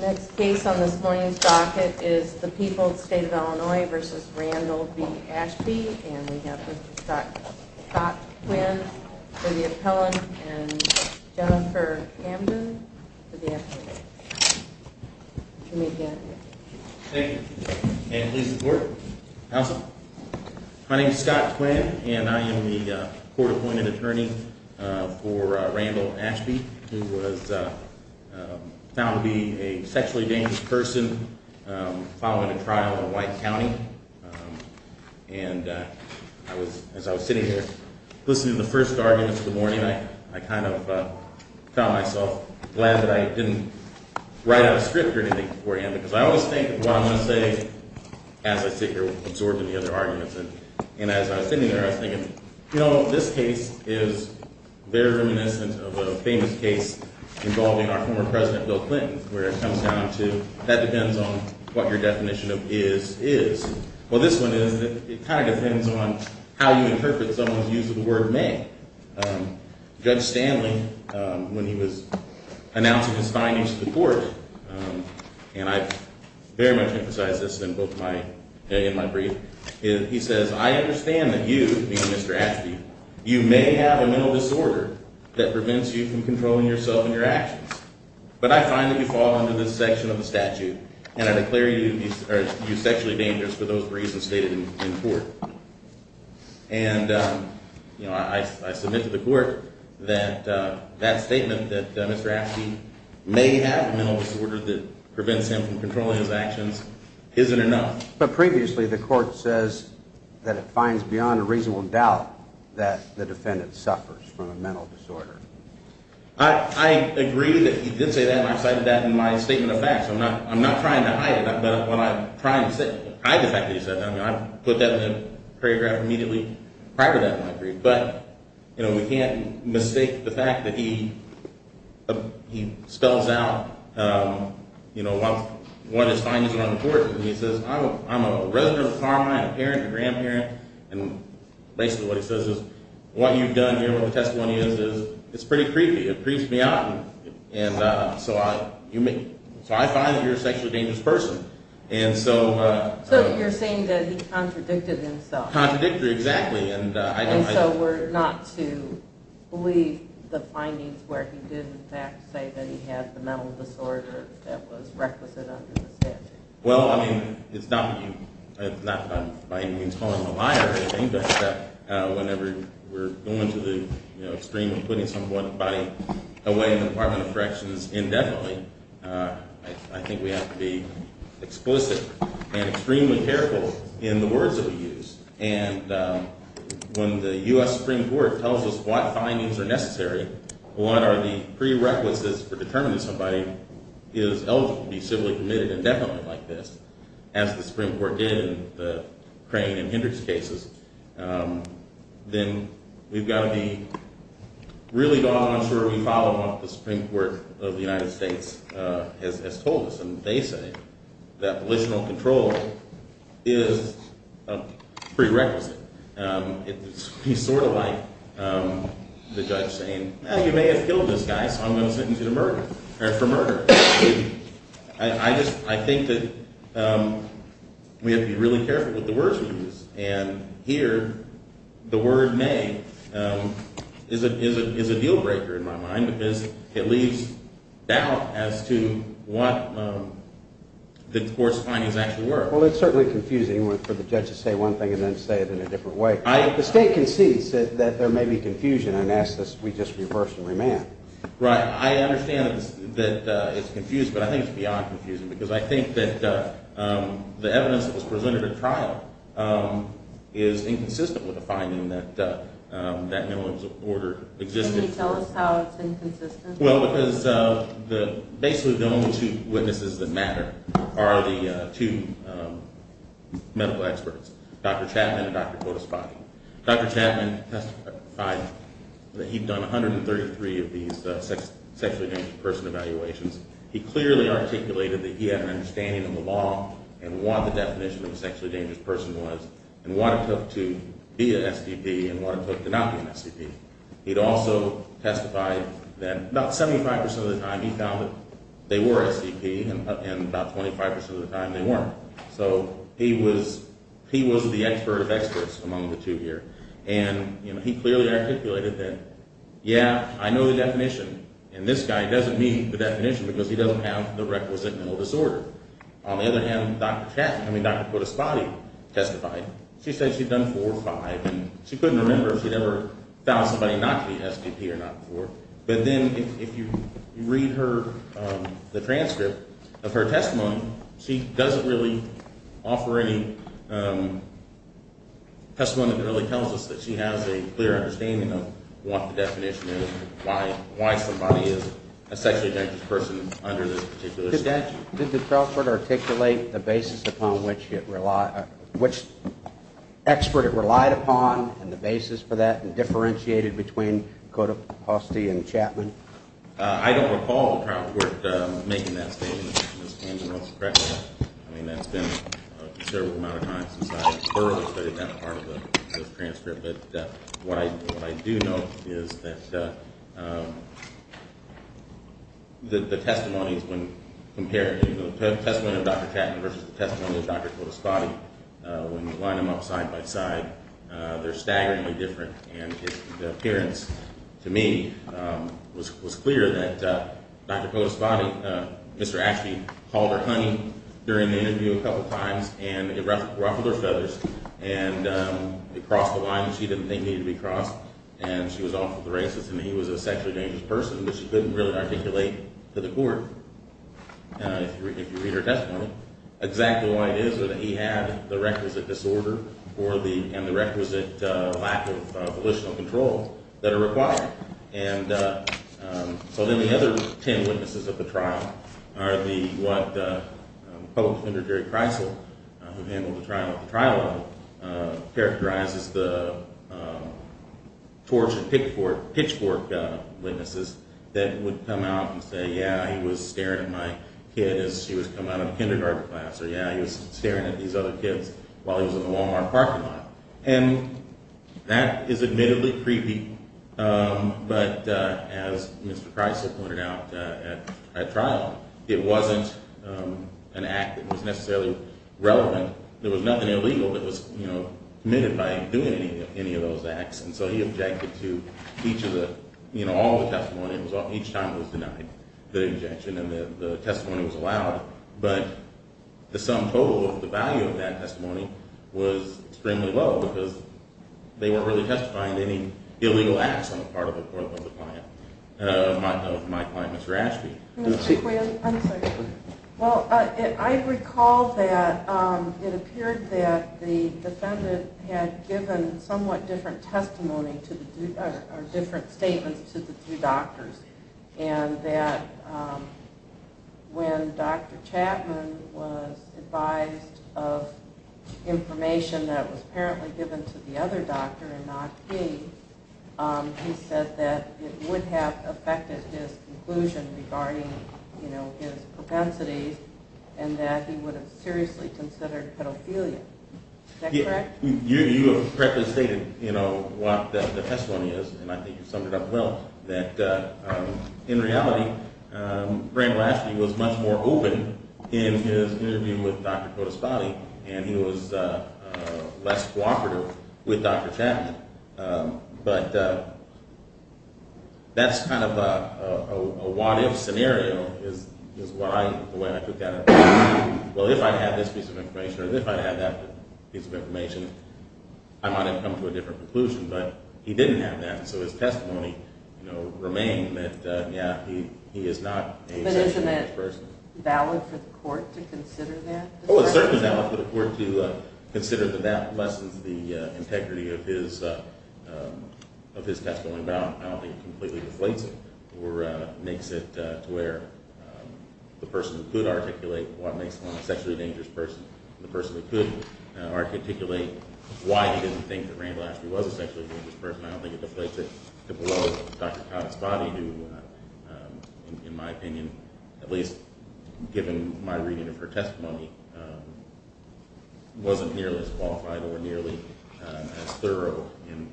Next case on this morning's docket is the People's State of Illinois v. Randall v. Ashby and we have Mr. Scott Quinn for the appellant and Jennifer Hamden for the appellant. You may begin. Thank you and please report. My name is Scott Quinn and I am the court-appointed attorney for Randall v. Ashby who was found to be a sexually dangerous person following a trial in White County. And as I was sitting here listening to the first arguments of the morning, I kind of found myself glad that I didn't write out a script or anything beforehand because I always think of what I'm going to say as I sit here absorbing the other arguments and as I was sitting there I was thinking, you know, this case is very reminiscent of a famous case involving our former president Bill Clinton where it comes down to that depends on what your definition of is is. Well this one is that it kind of depends on how you interpret someone's use of the word may. Judge Stanley, when he was announcing his findings to the court, and I very much emphasized this in my brief, he says, I understand that you, meaning Mr. Ashby, you may have a mental disorder that prevents you from controlling yourself and your actions, but I find that you fall under this section of the statute and I declare you sexually dangerous for those reasons stated in court. And I submit to the court that that statement that Mr. Ashby may have a mental disorder that prevents him from controlling his actions isn't enough. But previously the court says that it finds beyond a reasonable doubt that the defendant suffers from a mental disorder. I agree that he did say that and I cited that in my statement of facts. I'm not trying to hide it, but when I'm trying to hide the fact that he said that, I put that in the paragraph immediately prior to that in my brief. But, you know, we can't mistake the fact that he spells out, you know, what his findings are on the court. And he says, I'm a resident of Carmine, a parent, a grandparent, and basically what he says is, what you've done here, what the testimony is, is it's pretty creepy. It creeps me out. And so I find that you're a sexually dangerous person. So you're saying that he contradicted himself. Contradictory, exactly. And so we're not to believe the findings where he did, in fact, say that he had the mental disorder that was requisite under the statute. Well, I mean, it's not that I'm by any means calling him a liar or anything, but whenever we're going to the extreme of putting someone's body away in the Department of Corrections indefinitely, I think we have to be explicit and extremely careful in the words that we use. And when the U.S. Supreme Court tells us what findings are necessary, what are the prerequisites for determining somebody is eligible to be civilly committed indefinitely like this, as the Supreme Court did in the Crane and Hendricks cases, then we've got to be really going on and that's where we follow what the Supreme Court of the United States has told us. And they say that volitional control is a prerequisite. It would be sort of like the judge saying, well, you may have killed this guy, so I'm going to sentence you to murder, or for murder. I think that we have to be really careful with the words we use. And here, the word may is a deal breaker in my mind because it leaves doubt as to what the court's findings actually were. Well, it's certainly confusing for the judge to say one thing and then say it in a different way. The State concedes that there may be confusion and asks that we just reverse and remand. Right. I understand that it's confused, but I think it's beyond confusing because I think that the evidence that was presented at trial is inconsistent with the finding that no one's order existed. Can you tell us how it's inconsistent? Well, because basically the only two witnesses that matter are the two medical experts, Dr. Chapman and Dr. Kodespotty. Dr. Chapman testified that he'd done 133 of these sexually transmitted person evaluations. He clearly articulated that he had an understanding of the law and what the definition of a sexually dangerous person was and what it took to be an SDP and what it took to not be an SDP. He'd also testified that about 75% of the time he found that they were SDP and about 25% of the time they weren't. So he was the expert of experts among the two here. And he clearly articulated that, yeah, I know the definition, and this guy doesn't need the definition because he doesn't have the requisite mental disorder. On the other hand, Dr. Chapman, I mean Dr. Kodespotty testified. She said she'd done four or five, and she couldn't remember if she'd ever found somebody not to be SDP or not before. But then if you read the transcript of her testimony, she doesn't really offer any testimony that really tells us that she has a clear understanding of what the definition is, why somebody is a sexually dangerous person under this particular statute. Did the trial court articulate the basis upon which it relied, which expert it relied upon and the basis for that and differentiated between Kodespotty and Chapman? I don't recall the trial court making that statement. Ms. Angelo, correct me if I'm wrong. I mean that's been a considerable amount of time since I thoroughly studied that part of the transcript. But what I do know is that the testimonies when compared, the testimony of Dr. Chapman versus the testimony of Dr. Kodespotty, when you line them up side by side, they're staggeringly different. And the appearance to me was clear that Dr. Kodespotty, Mr. Ashby, called her honey during the interview a couple times, and it ruffled her feathers and it crossed the line that she didn't think needed to be crossed, and she was awfully racist and he was a sexually dangerous person, but she couldn't really articulate to the court, if you read her testimony, exactly why it is that he had the requisite disorder and the requisite lack of volitional control that are required. And so then the other ten witnesses at the trial are what public defender Jerry Kreisel, who handled the trial at the trial level, characterizes the torture pitchfork witnesses that would come out and say, yeah, he was staring at my kid as she was coming out of kindergarten class, or yeah, he was staring at these other kids while he was in the Walmart parking lot. And that is admittedly creepy, but as Mr. Kreisel pointed out at trial, it wasn't an act that was necessarily relevant. There was nothing illegal that was committed by him doing any of those acts, and so he objected to each of the, you know, all the testimony. Each time it was denied, the objection, and the testimony was allowed, but the sum total of the value of that testimony was extremely low because they weren't really testifying to any illegal acts on the part of my client, Mr. Ashby. Mr. Kreisel, one second. Well, I recall that it appeared that the defendant had given somewhat different testimony or different statements to the two doctors, and that when Dr. Chapman was advised of information that was apparently given to the other doctor and not he, he said that it would have affected his conclusion regarding, you know, his propensities and that he would have seriously considered pedophilia. Is that correct? You have correctly stated, you know, what the testimony is, and I think you summed it up well, that in reality, Frank Lashley was much more open in his interview with Dr. Cotas-Body, and he was less cooperative with Dr. Chapman. But that's kind of a what-if scenario is what I, the way I took that. Well, if I had this piece of information or if I had that piece of information, I might have come to a different conclusion, but he didn't have that, so his testimony, you know, remained that, yeah, he is not a sexually dangerous person. But isn't it valid for the court to consider that? Oh, it's certainly valid for the court to consider that that lessens the integrity of his testimony, but I don't think it completely deflates it or makes it to where the person who could articulate what makes one a sexually dangerous person or the person who could articulate why he didn't think that Randall actually was a sexually dangerous person. I don't think it deflates it to below Dr. Cotas-Body who, in my opinion, at least given my reading of her testimony, wasn't nearly as qualified or nearly as thorough in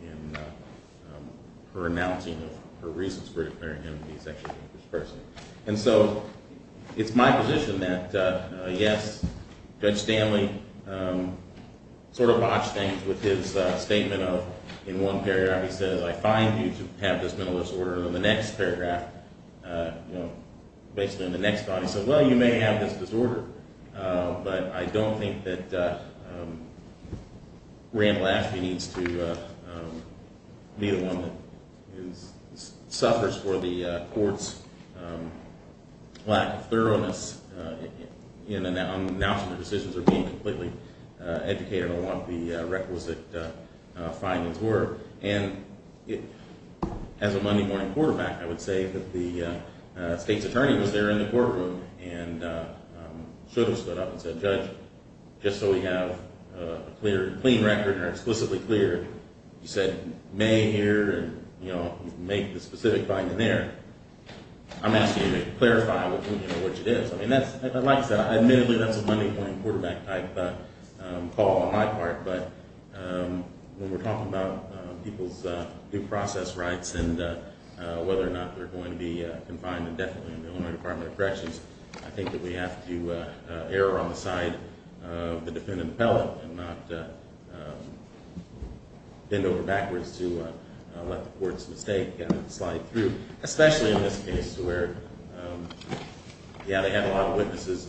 her announcing of her reasons for declaring him to be a sexually dangerous person. And so it's my position that, yes, Judge Stanley sort of botched things with his statement of, in one paragraph he said, I find you to have this mental disorder, and in the next paragraph, you know, basically in the next body, he said, well, you may have this disorder, but I don't think that Randall Ashby needs to be the one who suffers for the court's lack of thoroughness in announcing the decisions or being completely educated on what the requisite findings were. And as a Monday morning quarterback, I would say that the state's attorney was there in the courtroom and should have stood up and said, Judge, just so we have a clear and clean record and are explicitly clear, you said may here and make the specific finding there. I'm asking you to clarify which it is. Like I said, admittedly, that's a Monday morning quarterback type call on my part, but when we're talking about people's due process rights and whether or not they're going to be confined indefinitely in the Illinois Department of Corrections, I think that we have to err on the side of the defendant appellate and not bend over backwards to let the court's mistake slide through, especially in this case where, yeah, they had a lot of witnesses,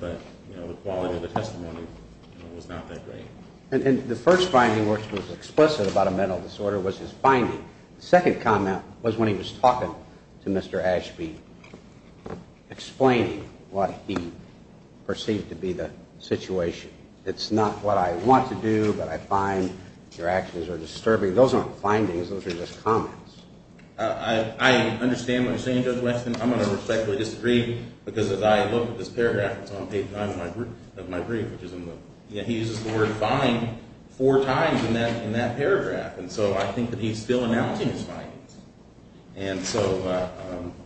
but the quality of the testimony was not that great. And the first finding which was explicit about a mental disorder was his finding. The second comment was when he was talking to Mr. Ashby, explaining what he perceived to be the situation. It's not what I want to do, but I find your actions are disturbing. Those aren't findings. Those are just comments. I understand what you're saying, Judge Weston. I'm going to respectfully disagree because as I look at this paragraph that's on page 9 of my brief, which is in the he uses the word find four times in that paragraph, and so I think that he's still announcing his findings. And so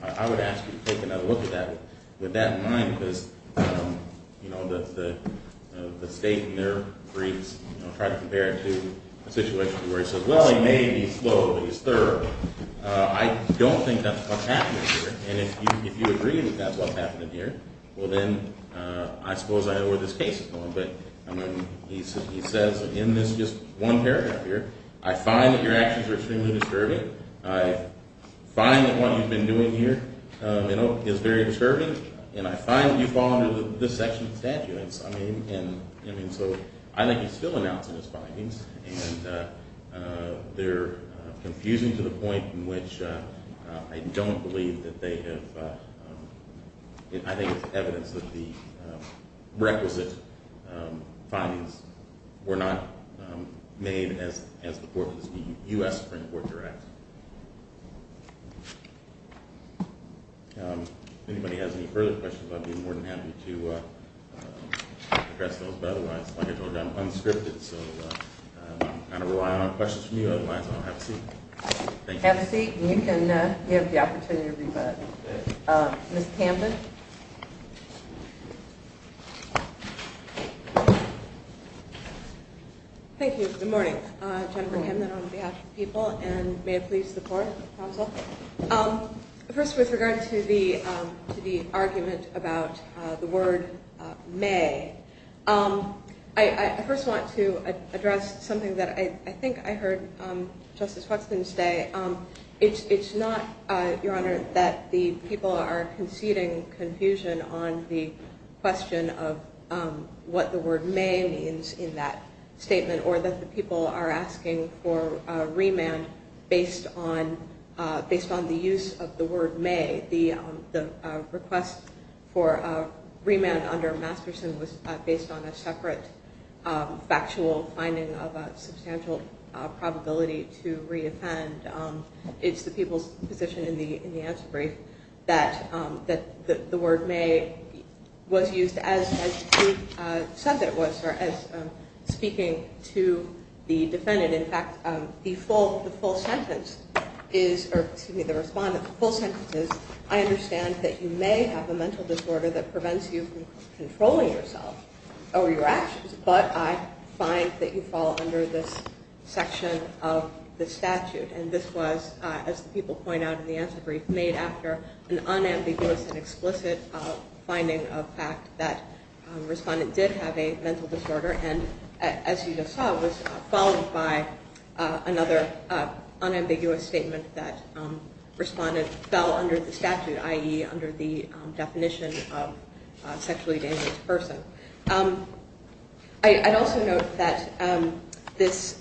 I would ask you to take another look at that with that in mind because the state in their briefs try to compare it to a situation where he says, well, he may be slow, but he's thorough. I don't think that's what's happening here, and if you agree that that's what's happening here, well, then I suppose I know where this case is going. But he says in this just one paragraph here, I find that your actions are extremely disturbing. I find that what you've been doing here is very disturbing, and I find that you fall under this section of statutes. And so I think he's still announcing his findings, and they're confusing to the point in which I don't believe that they have, I think it's evidence that the requisite findings were not made as the U.S. Supreme Court directs. If anybody has any further questions, I'd be more than happy to address those. But otherwise, like I told you, I'm unscripted, so I'm going to rely on questions from you. Otherwise, I'll have a seat. Have a seat, and you can give the opportunity to rebut. Ms. Camden. Thank you. Good morning. Jennifer Camden on behalf of the people, and may it please the Court, the Council. First, with regard to the argument about the word may, I first want to address something that I think I heard Justice Huxton say. It's not, Your Honor, that the people are conceding confusion on the question of what the word may means in that statement, or that the people are asking for remand based on the use of the word may. The request for remand under Masterson was based on a separate factual finding of a substantial probability to reoffend. It's the people's position in the answer brief that the word may was used as he said it was, or as speaking to the defendant. And in fact, the full sentence is, or excuse me, the respondent's full sentence is, I understand that you may have a mental disorder that prevents you from controlling yourself over your actions, but I find that you fall under this section of the statute. And this was, as the people point out in the answer brief, made after an unambiguous and explicit finding of fact that the respondent did have a mental disorder, and as you just saw, it was followed by another unambiguous statement that respondent fell under the statute, i.e. under the definition of sexually dangerous person. I'd also note that this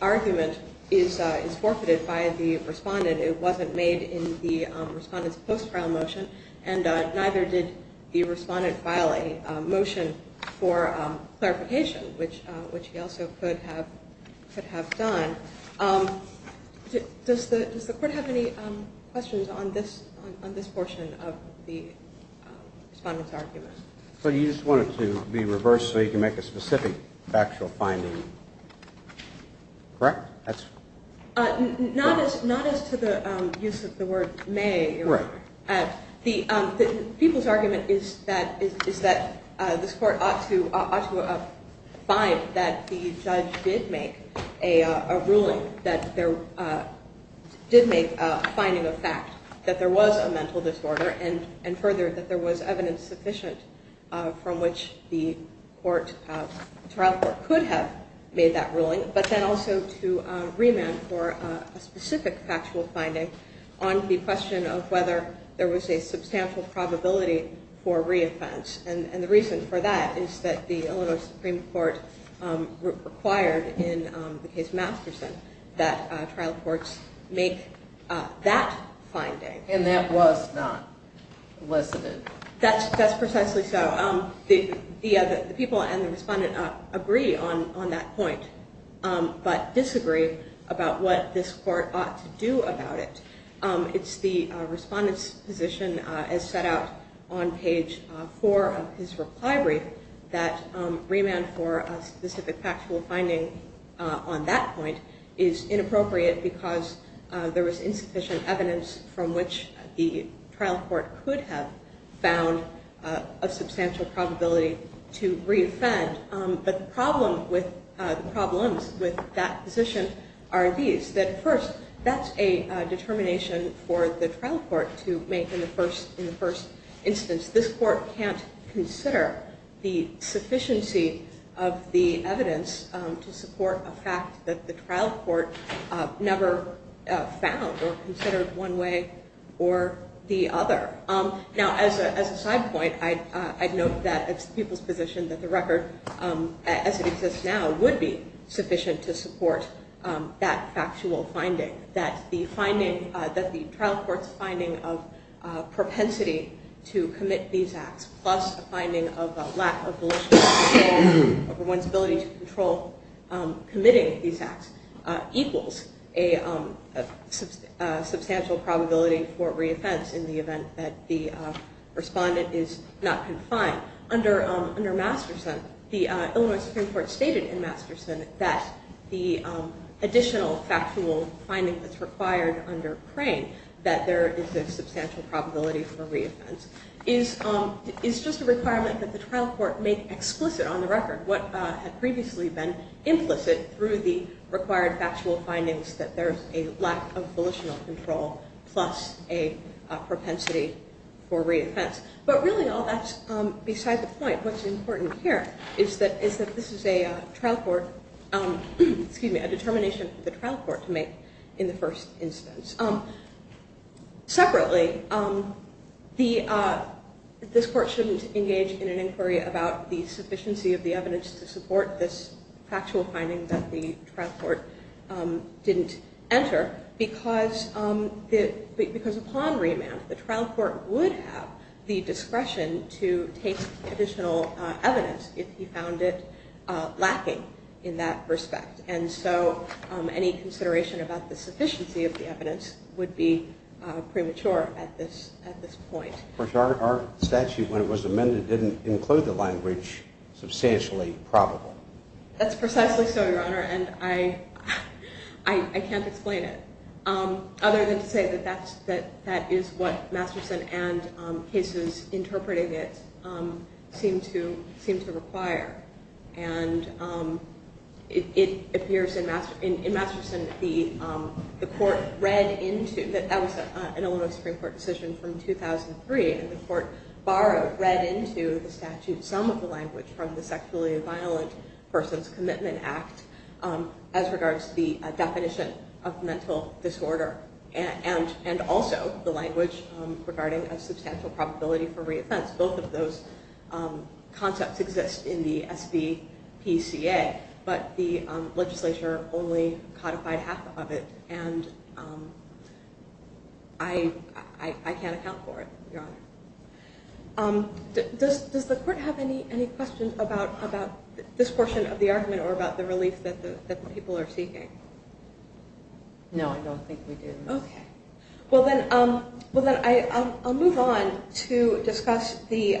argument is forfeited by the respondent. It wasn't made in the respondent's post-trial motion, and neither did the respondent file a motion for clarification, which he also could have done. Does the Court have any questions on this portion of the respondent's argument? So you just want it to be reversed so you can make a specific factual finding, correct? Not as to the use of the word may. The people's argument is that this Court ought to find that the judge did make a ruling, that there did make a finding of fact that there was a mental disorder, and further, that there was evidence sufficient from which the trial court could have made that ruling, but then also to remand for a specific factual finding on the question of whether there was a substantial probability for re-offense, and the reason for that is that the Illinois Supreme Court required in the case Masterson that trial courts make that finding. And that was not elicited. That's precisely so. The people and the respondent agree on that point, but disagree about what this Court ought to do about it. It's the respondent's position, as set out on page 4 of his reply brief, that remand for a specific factual finding on that point is inappropriate because there was insufficient evidence from which the trial court could have found a substantial probability to re-offend. But the problems with that position are these, that first, that's a determination for the trial court to make in the first instance. This court can't consider the sufficiency of the evidence to support a fact that the trial court never found or considered one way or the other. Now, as a side point, I'd note that it's the people's position that the record, as it exists now, would be sufficient to support that factual finding, that the trial court's finding of propensity to commit these acts, plus a finding of a lack of volitional control over one's ability to control committing these acts, equals a substantial probability for re-offense in the event that the respondent is not confined. Now, under Masterson, the Illinois Supreme Court stated in Masterson that the additional factual finding that's required under Crane, that there is a substantial probability for re-offense, is just a requirement that the trial court make explicit on the record what had previously been implicit through the required factual findings, that there's a lack of volitional control plus a propensity for re-offense. But really, all that's beside the point. What's important here is that this is a determination for the trial court to make in the first instance. Separately, this court shouldn't engage in an inquiry about the sufficiency of the evidence to support this factual finding that the trial court didn't enter, because upon remand, the trial court would have the discretion to take additional evidence if he found it lacking in that respect. And so, any consideration about the sufficiency of the evidence would be premature at this point. Our statute, when it was amended, didn't include the language, substantially probable. That's precisely so, Your Honor, and I can't explain it. Other than to say that that is what Masterson and cases interpreting it seem to require. And it appears in Masterson that the court read into, that was an Illinois Supreme Court decision from 2003, and the court borrowed, read into the statute, some of the language from the Sexually Violent Persons Commitment Act as regards to the definition of mental disorder, and also the language regarding a substantial probability for re-offense. Both of those concepts exist in the SBPCA, but the legislature only codified half of it, and I can't account for it, Your Honor. Does the court have any questions about this portion of the argument or about the relief that people are seeking? No, I don't think we do. Okay. Well then, I'll move on to discuss the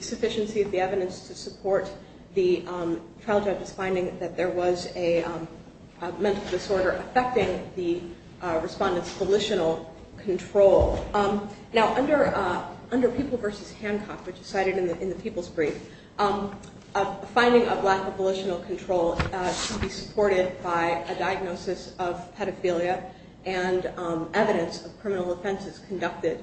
sufficiency of the evidence to support the trial judge's finding that there was a mental disorder affecting the respondent's volitional control. Now, under People v. Hancock, which is cited in the People's Brief, a finding of lack of volitional control should be supported by a diagnosis of pedophilia and evidence of criminal offenses conducted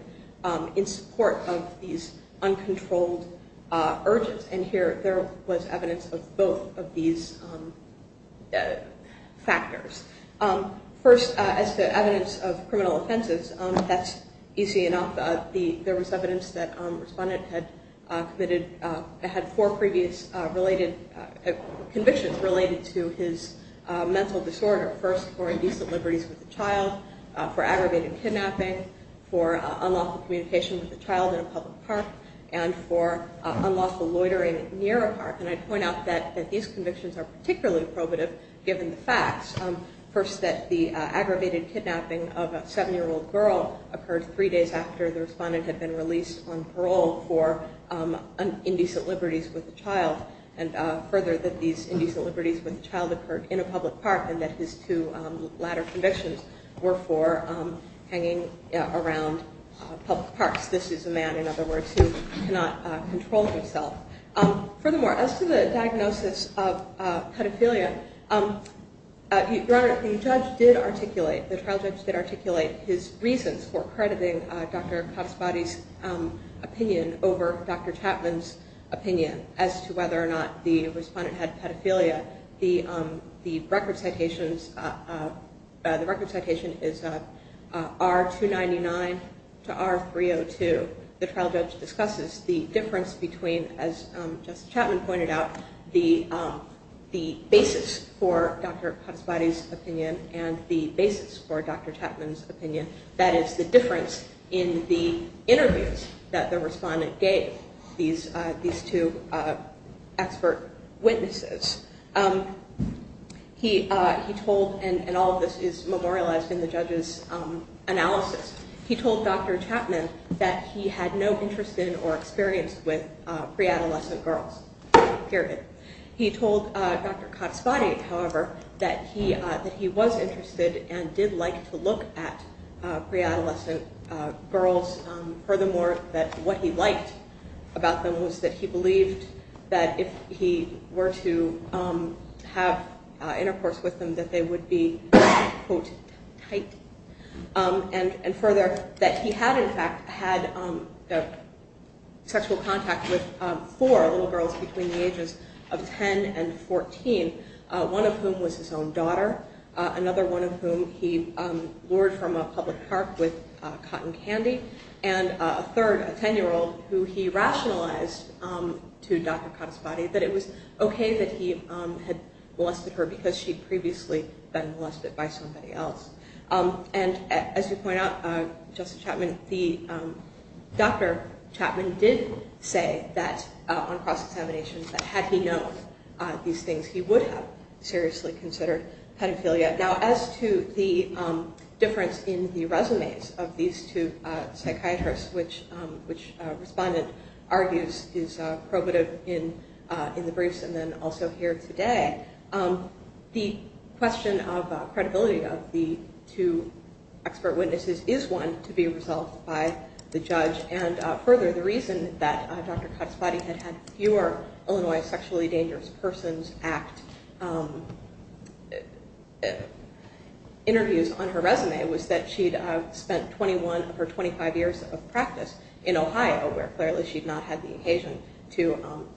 in support of these uncontrolled urges. And here, there was evidence of both of these factors. First, as to evidence of criminal offenses, that's easy enough. There was evidence that the respondent had four previous convictions related to his mental disorder, first for indecent liberties with a child, for aggravated kidnapping, for unlawful communication with a child in a public park, and for unlawful loitering near a park. And I'd point out that these convictions are particularly probative given the facts. First, that the aggravated kidnapping of a seven-year-old girl occurred three days after the respondent had been released on parole for indecent liberties with a child. And further, that these indecent liberties with a child occurred in a public park and that his two latter convictions were for hanging around public parks. This is a man, in other words, who cannot control himself. Furthermore, as to the diagnosis of pedophilia, Your Honor, the judge did articulate, the trial judge did articulate his reasons for crediting Dr. Khattabadi's opinion over Dr. Chapman's opinion as to whether or not the respondent had pedophilia. The record citation is R-299 to R-302. The trial judge discusses the difference between, as Justice Chapman pointed out, the basis for Dr. Khattabadi's opinion and the basis for Dr. Chapman's opinion. That is, the difference in the interviews that the respondent gave these two expert witnesses. He told, and all of this is memorialized in the judge's analysis, he told Dr. Chapman that he had no interest in or experience with pre-adolescent girls, period. He told Dr. Khattabadi, however, that he was interested and did like to look at pre-adolescent girls. Furthermore, what he liked about them was that he believed that if he were to have intercourse with them, that they would be, quote, tight. And further, that he had, in fact, had sexual contact with four little girls between the ages of 10 and 14, one of whom was his own daughter, another one of whom he lured from a public park with cotton candy. And a third, a 10-year-old, who he rationalized to Dr. Khattabadi that it was okay that he had molested her because she'd previously been molested by somebody else. And as you point out, Justice Chapman, Dr. Chapman did say that, on cross-examination, that had he known these things, he would have seriously considered pedophilia. Now, as to the difference in the resumes of these two psychiatrists, which a respondent argues is probative in the briefs and then also here today, the question of credibility of the two expert witnesses is one to be resolved by the judge. And further, the reason that Dr. Khattabadi had had fewer Illinois Sexually Dangerous Persons Act interviews on her resume was that she'd spent 21 of her 25 years of practice in Ohio, where clearly she'd not had the occasion to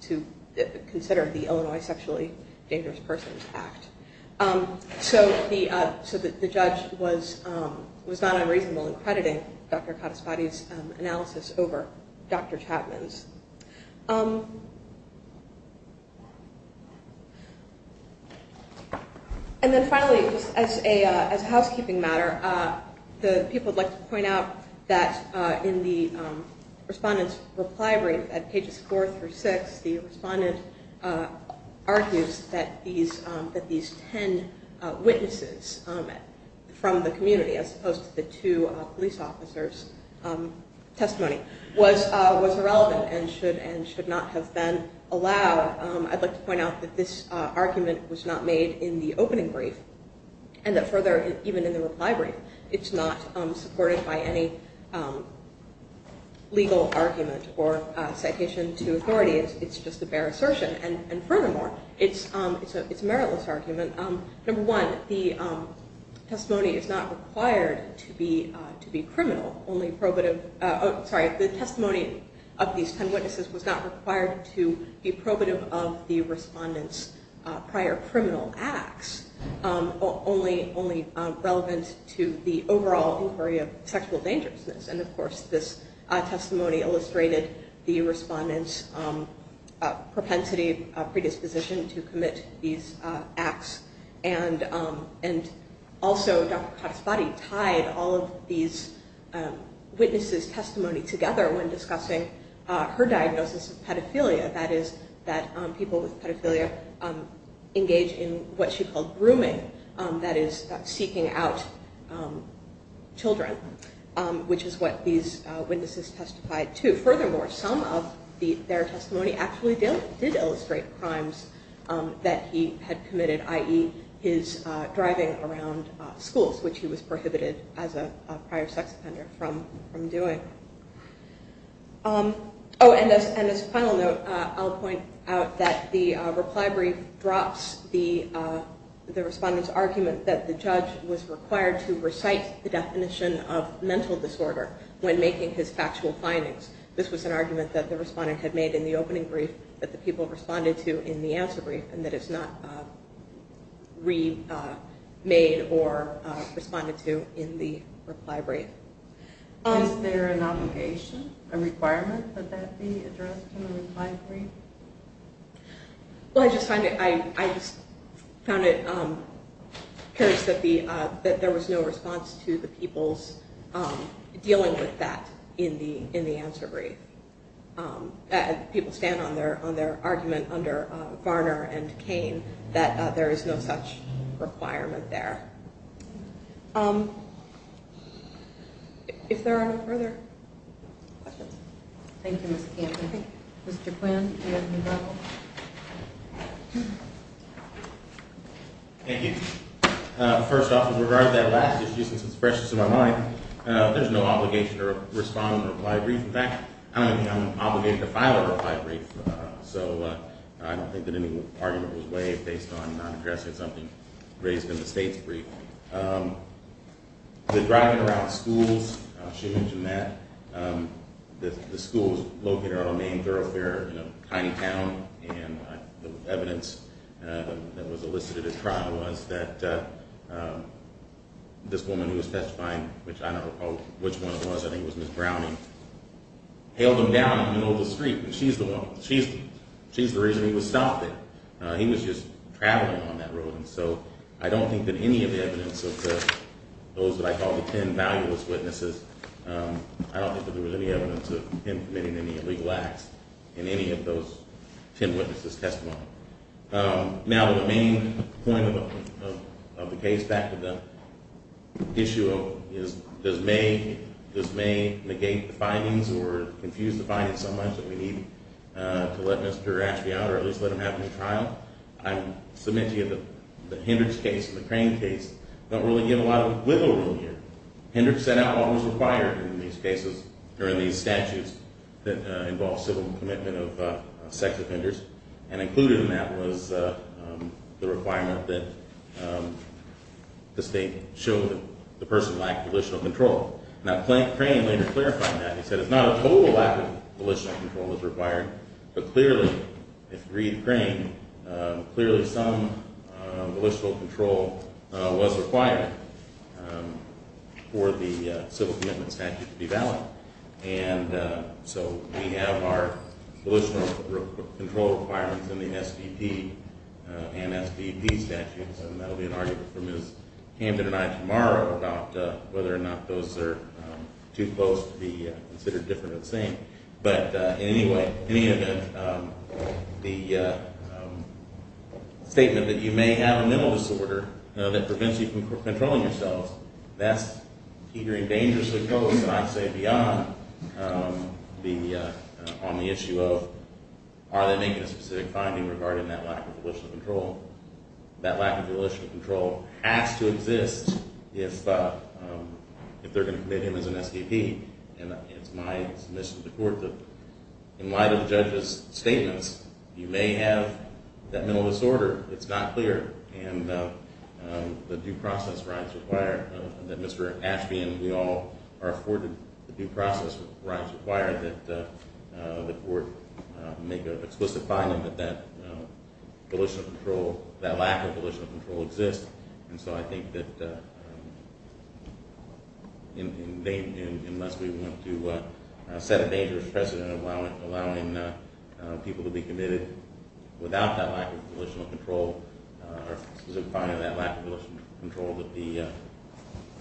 consider the Illinois Sexually Dangerous Persons Act. So the judge was not unreasonable in crediting Dr. Khattabadi's analysis over Dr. Chapman's. And then finally, as a housekeeping matter, the people would like to point out that in the respondent's reply brief, at pages four through six, the respondent argues that these ten witnesses from the community, as opposed to the two police officers' testimony, was irrelevant and should not have been allowed. I'd like to point out that this argument was not made in the opening brief, and that further, even in the reply brief, it's not supported by any legal argument or citation to authority. It's just a bare assertion. And furthermore, it's a meritless argument. Number one, the testimony is not required to be criminal, only probative. Sorry, the testimony of these ten witnesses was not required to be probative of the respondent's prior criminal acts, only relevant to the overall inquiry of sexual dangerousness. And of course, this testimony illustrated the respondent's propensity, predisposition to commit these acts. And also, Dr. Khattabadi tied all of these witnesses' testimony together when discussing her diagnosis of pedophilia, that is, that people with pedophilia engage in what she called grooming, that is, seeking out children, which is what these witnesses testified to. Furthermore, some of their testimony actually did illustrate crimes that he had committed, i.e., his driving around schools, which he was prohibited as a prior sex offender from doing. Oh, and as a final note, I'll point out that the reply brief drops the respondent's argument that the judge was required to recite the definition of mental disorder when making his factual findings. This was an argument that the respondent had made in the opening brief that the people responded to in the answer brief and that is not remade or responded to in the reply brief. Okay. Was there an obligation, a requirement that that be addressed in the reply brief? Well, I just found it curious that there was no response to the people's dealing with that in the answer brief. People stand on their argument under Varner and Cain that there is no such requirement there. If there are no further questions. Thank you, Ms. Campbell. Mr. Quinn, do you have a rebuttal? Thank you. First off, with regard to that last issue, since it's fresh to my mind, there's no obligation to respond in the reply brief. In fact, I don't think I'm obligated to file a reply brief, so I don't think that any argument was waived based on not addressing something raised in the state's brief. The driving around schools, she mentioned that. The school was located around a main thoroughfare in a tiny town, and the evidence that was elicited at trial was that this woman who was testifying, which I don't recall which one it was, I think it was Ms. Browning, hailed him down on the middle of the street. She's the reason he was stopped there. He was just traveling on that road. And so I don't think that any of the evidence of those that I call the ten valueless witnesses, I don't think that there was any evidence of him committing any illegal acts in any of those ten witnesses' testimony. Now, the main point of the case, back to the issue of does May negate the findings or confuse the findings so much that we need to let Mr. Ashby out or at least let him have a new trial? I'm submitting that the Hendricks case and the Crane case don't really give a lot of wiggle room here. Hendricks set out what was required in these cases, or in these statutes, that involve civil commitment of sex offenders, and included in that was the requirement that the state show the person lacked volitional control. Now, Crane later clarified that. He said it's not a total lack of volitional control that's required, but clearly, if Reed Crane, clearly some volitional control was required for the civil commitment statute to be valid. And so we have our volitional control requirements in the SBP and SBP statutes, and that will be an argument for Ms. Camden and I tomorrow about whether or not those are too close to be considered different or the same. But anyway, in any event, the statement that you may have a mental disorder that prevents you from controlling yourself, that's either in danger or close, and I'd say beyond on the issue of are they making a specific finding regarding that lack of volitional control. That lack of volitional control has to exist if they're going to commit him as an SBP. And it's my submission to the court that in light of the judge's statements, you may have that mental disorder. It's not clear, and the due process rights require that Mr. Ashby and we all are afforded due process rights require that the court make an explicit finding that that volitional control, that lack of volitional control exists. And so I think that unless we want to set a dangerous precedent allowing people to be committed without that lack of volitional control or a specific finding of that lack of volitional control that the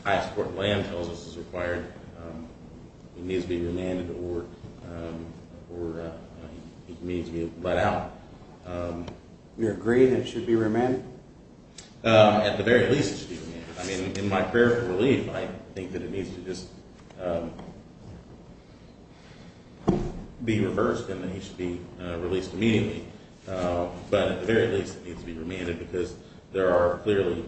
highest court of land tells us is required, it needs to be remanded or it needs to be let out. You agree that it should be remanded? I mean, in my prayer for relief, I think that it needs to just be reversed and that he should be released immediately. But at the very least, it needs to be remanded because there are clearly,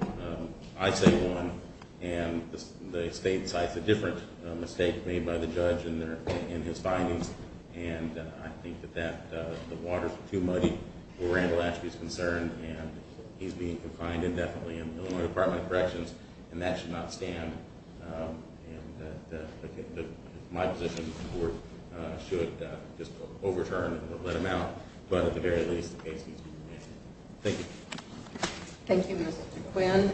I say one, and the state cites a different mistake made by the judge in his findings, and I think that the water's too muddy where Randall Ashby's concerned, and he's being confined indefinitely in the Illinois Department of Corrections, and that should not stand. And my position is the court should just overturn and let him out. But at the very least, the case needs to be remanded. Thank you. Thank you, Mr. Quinn.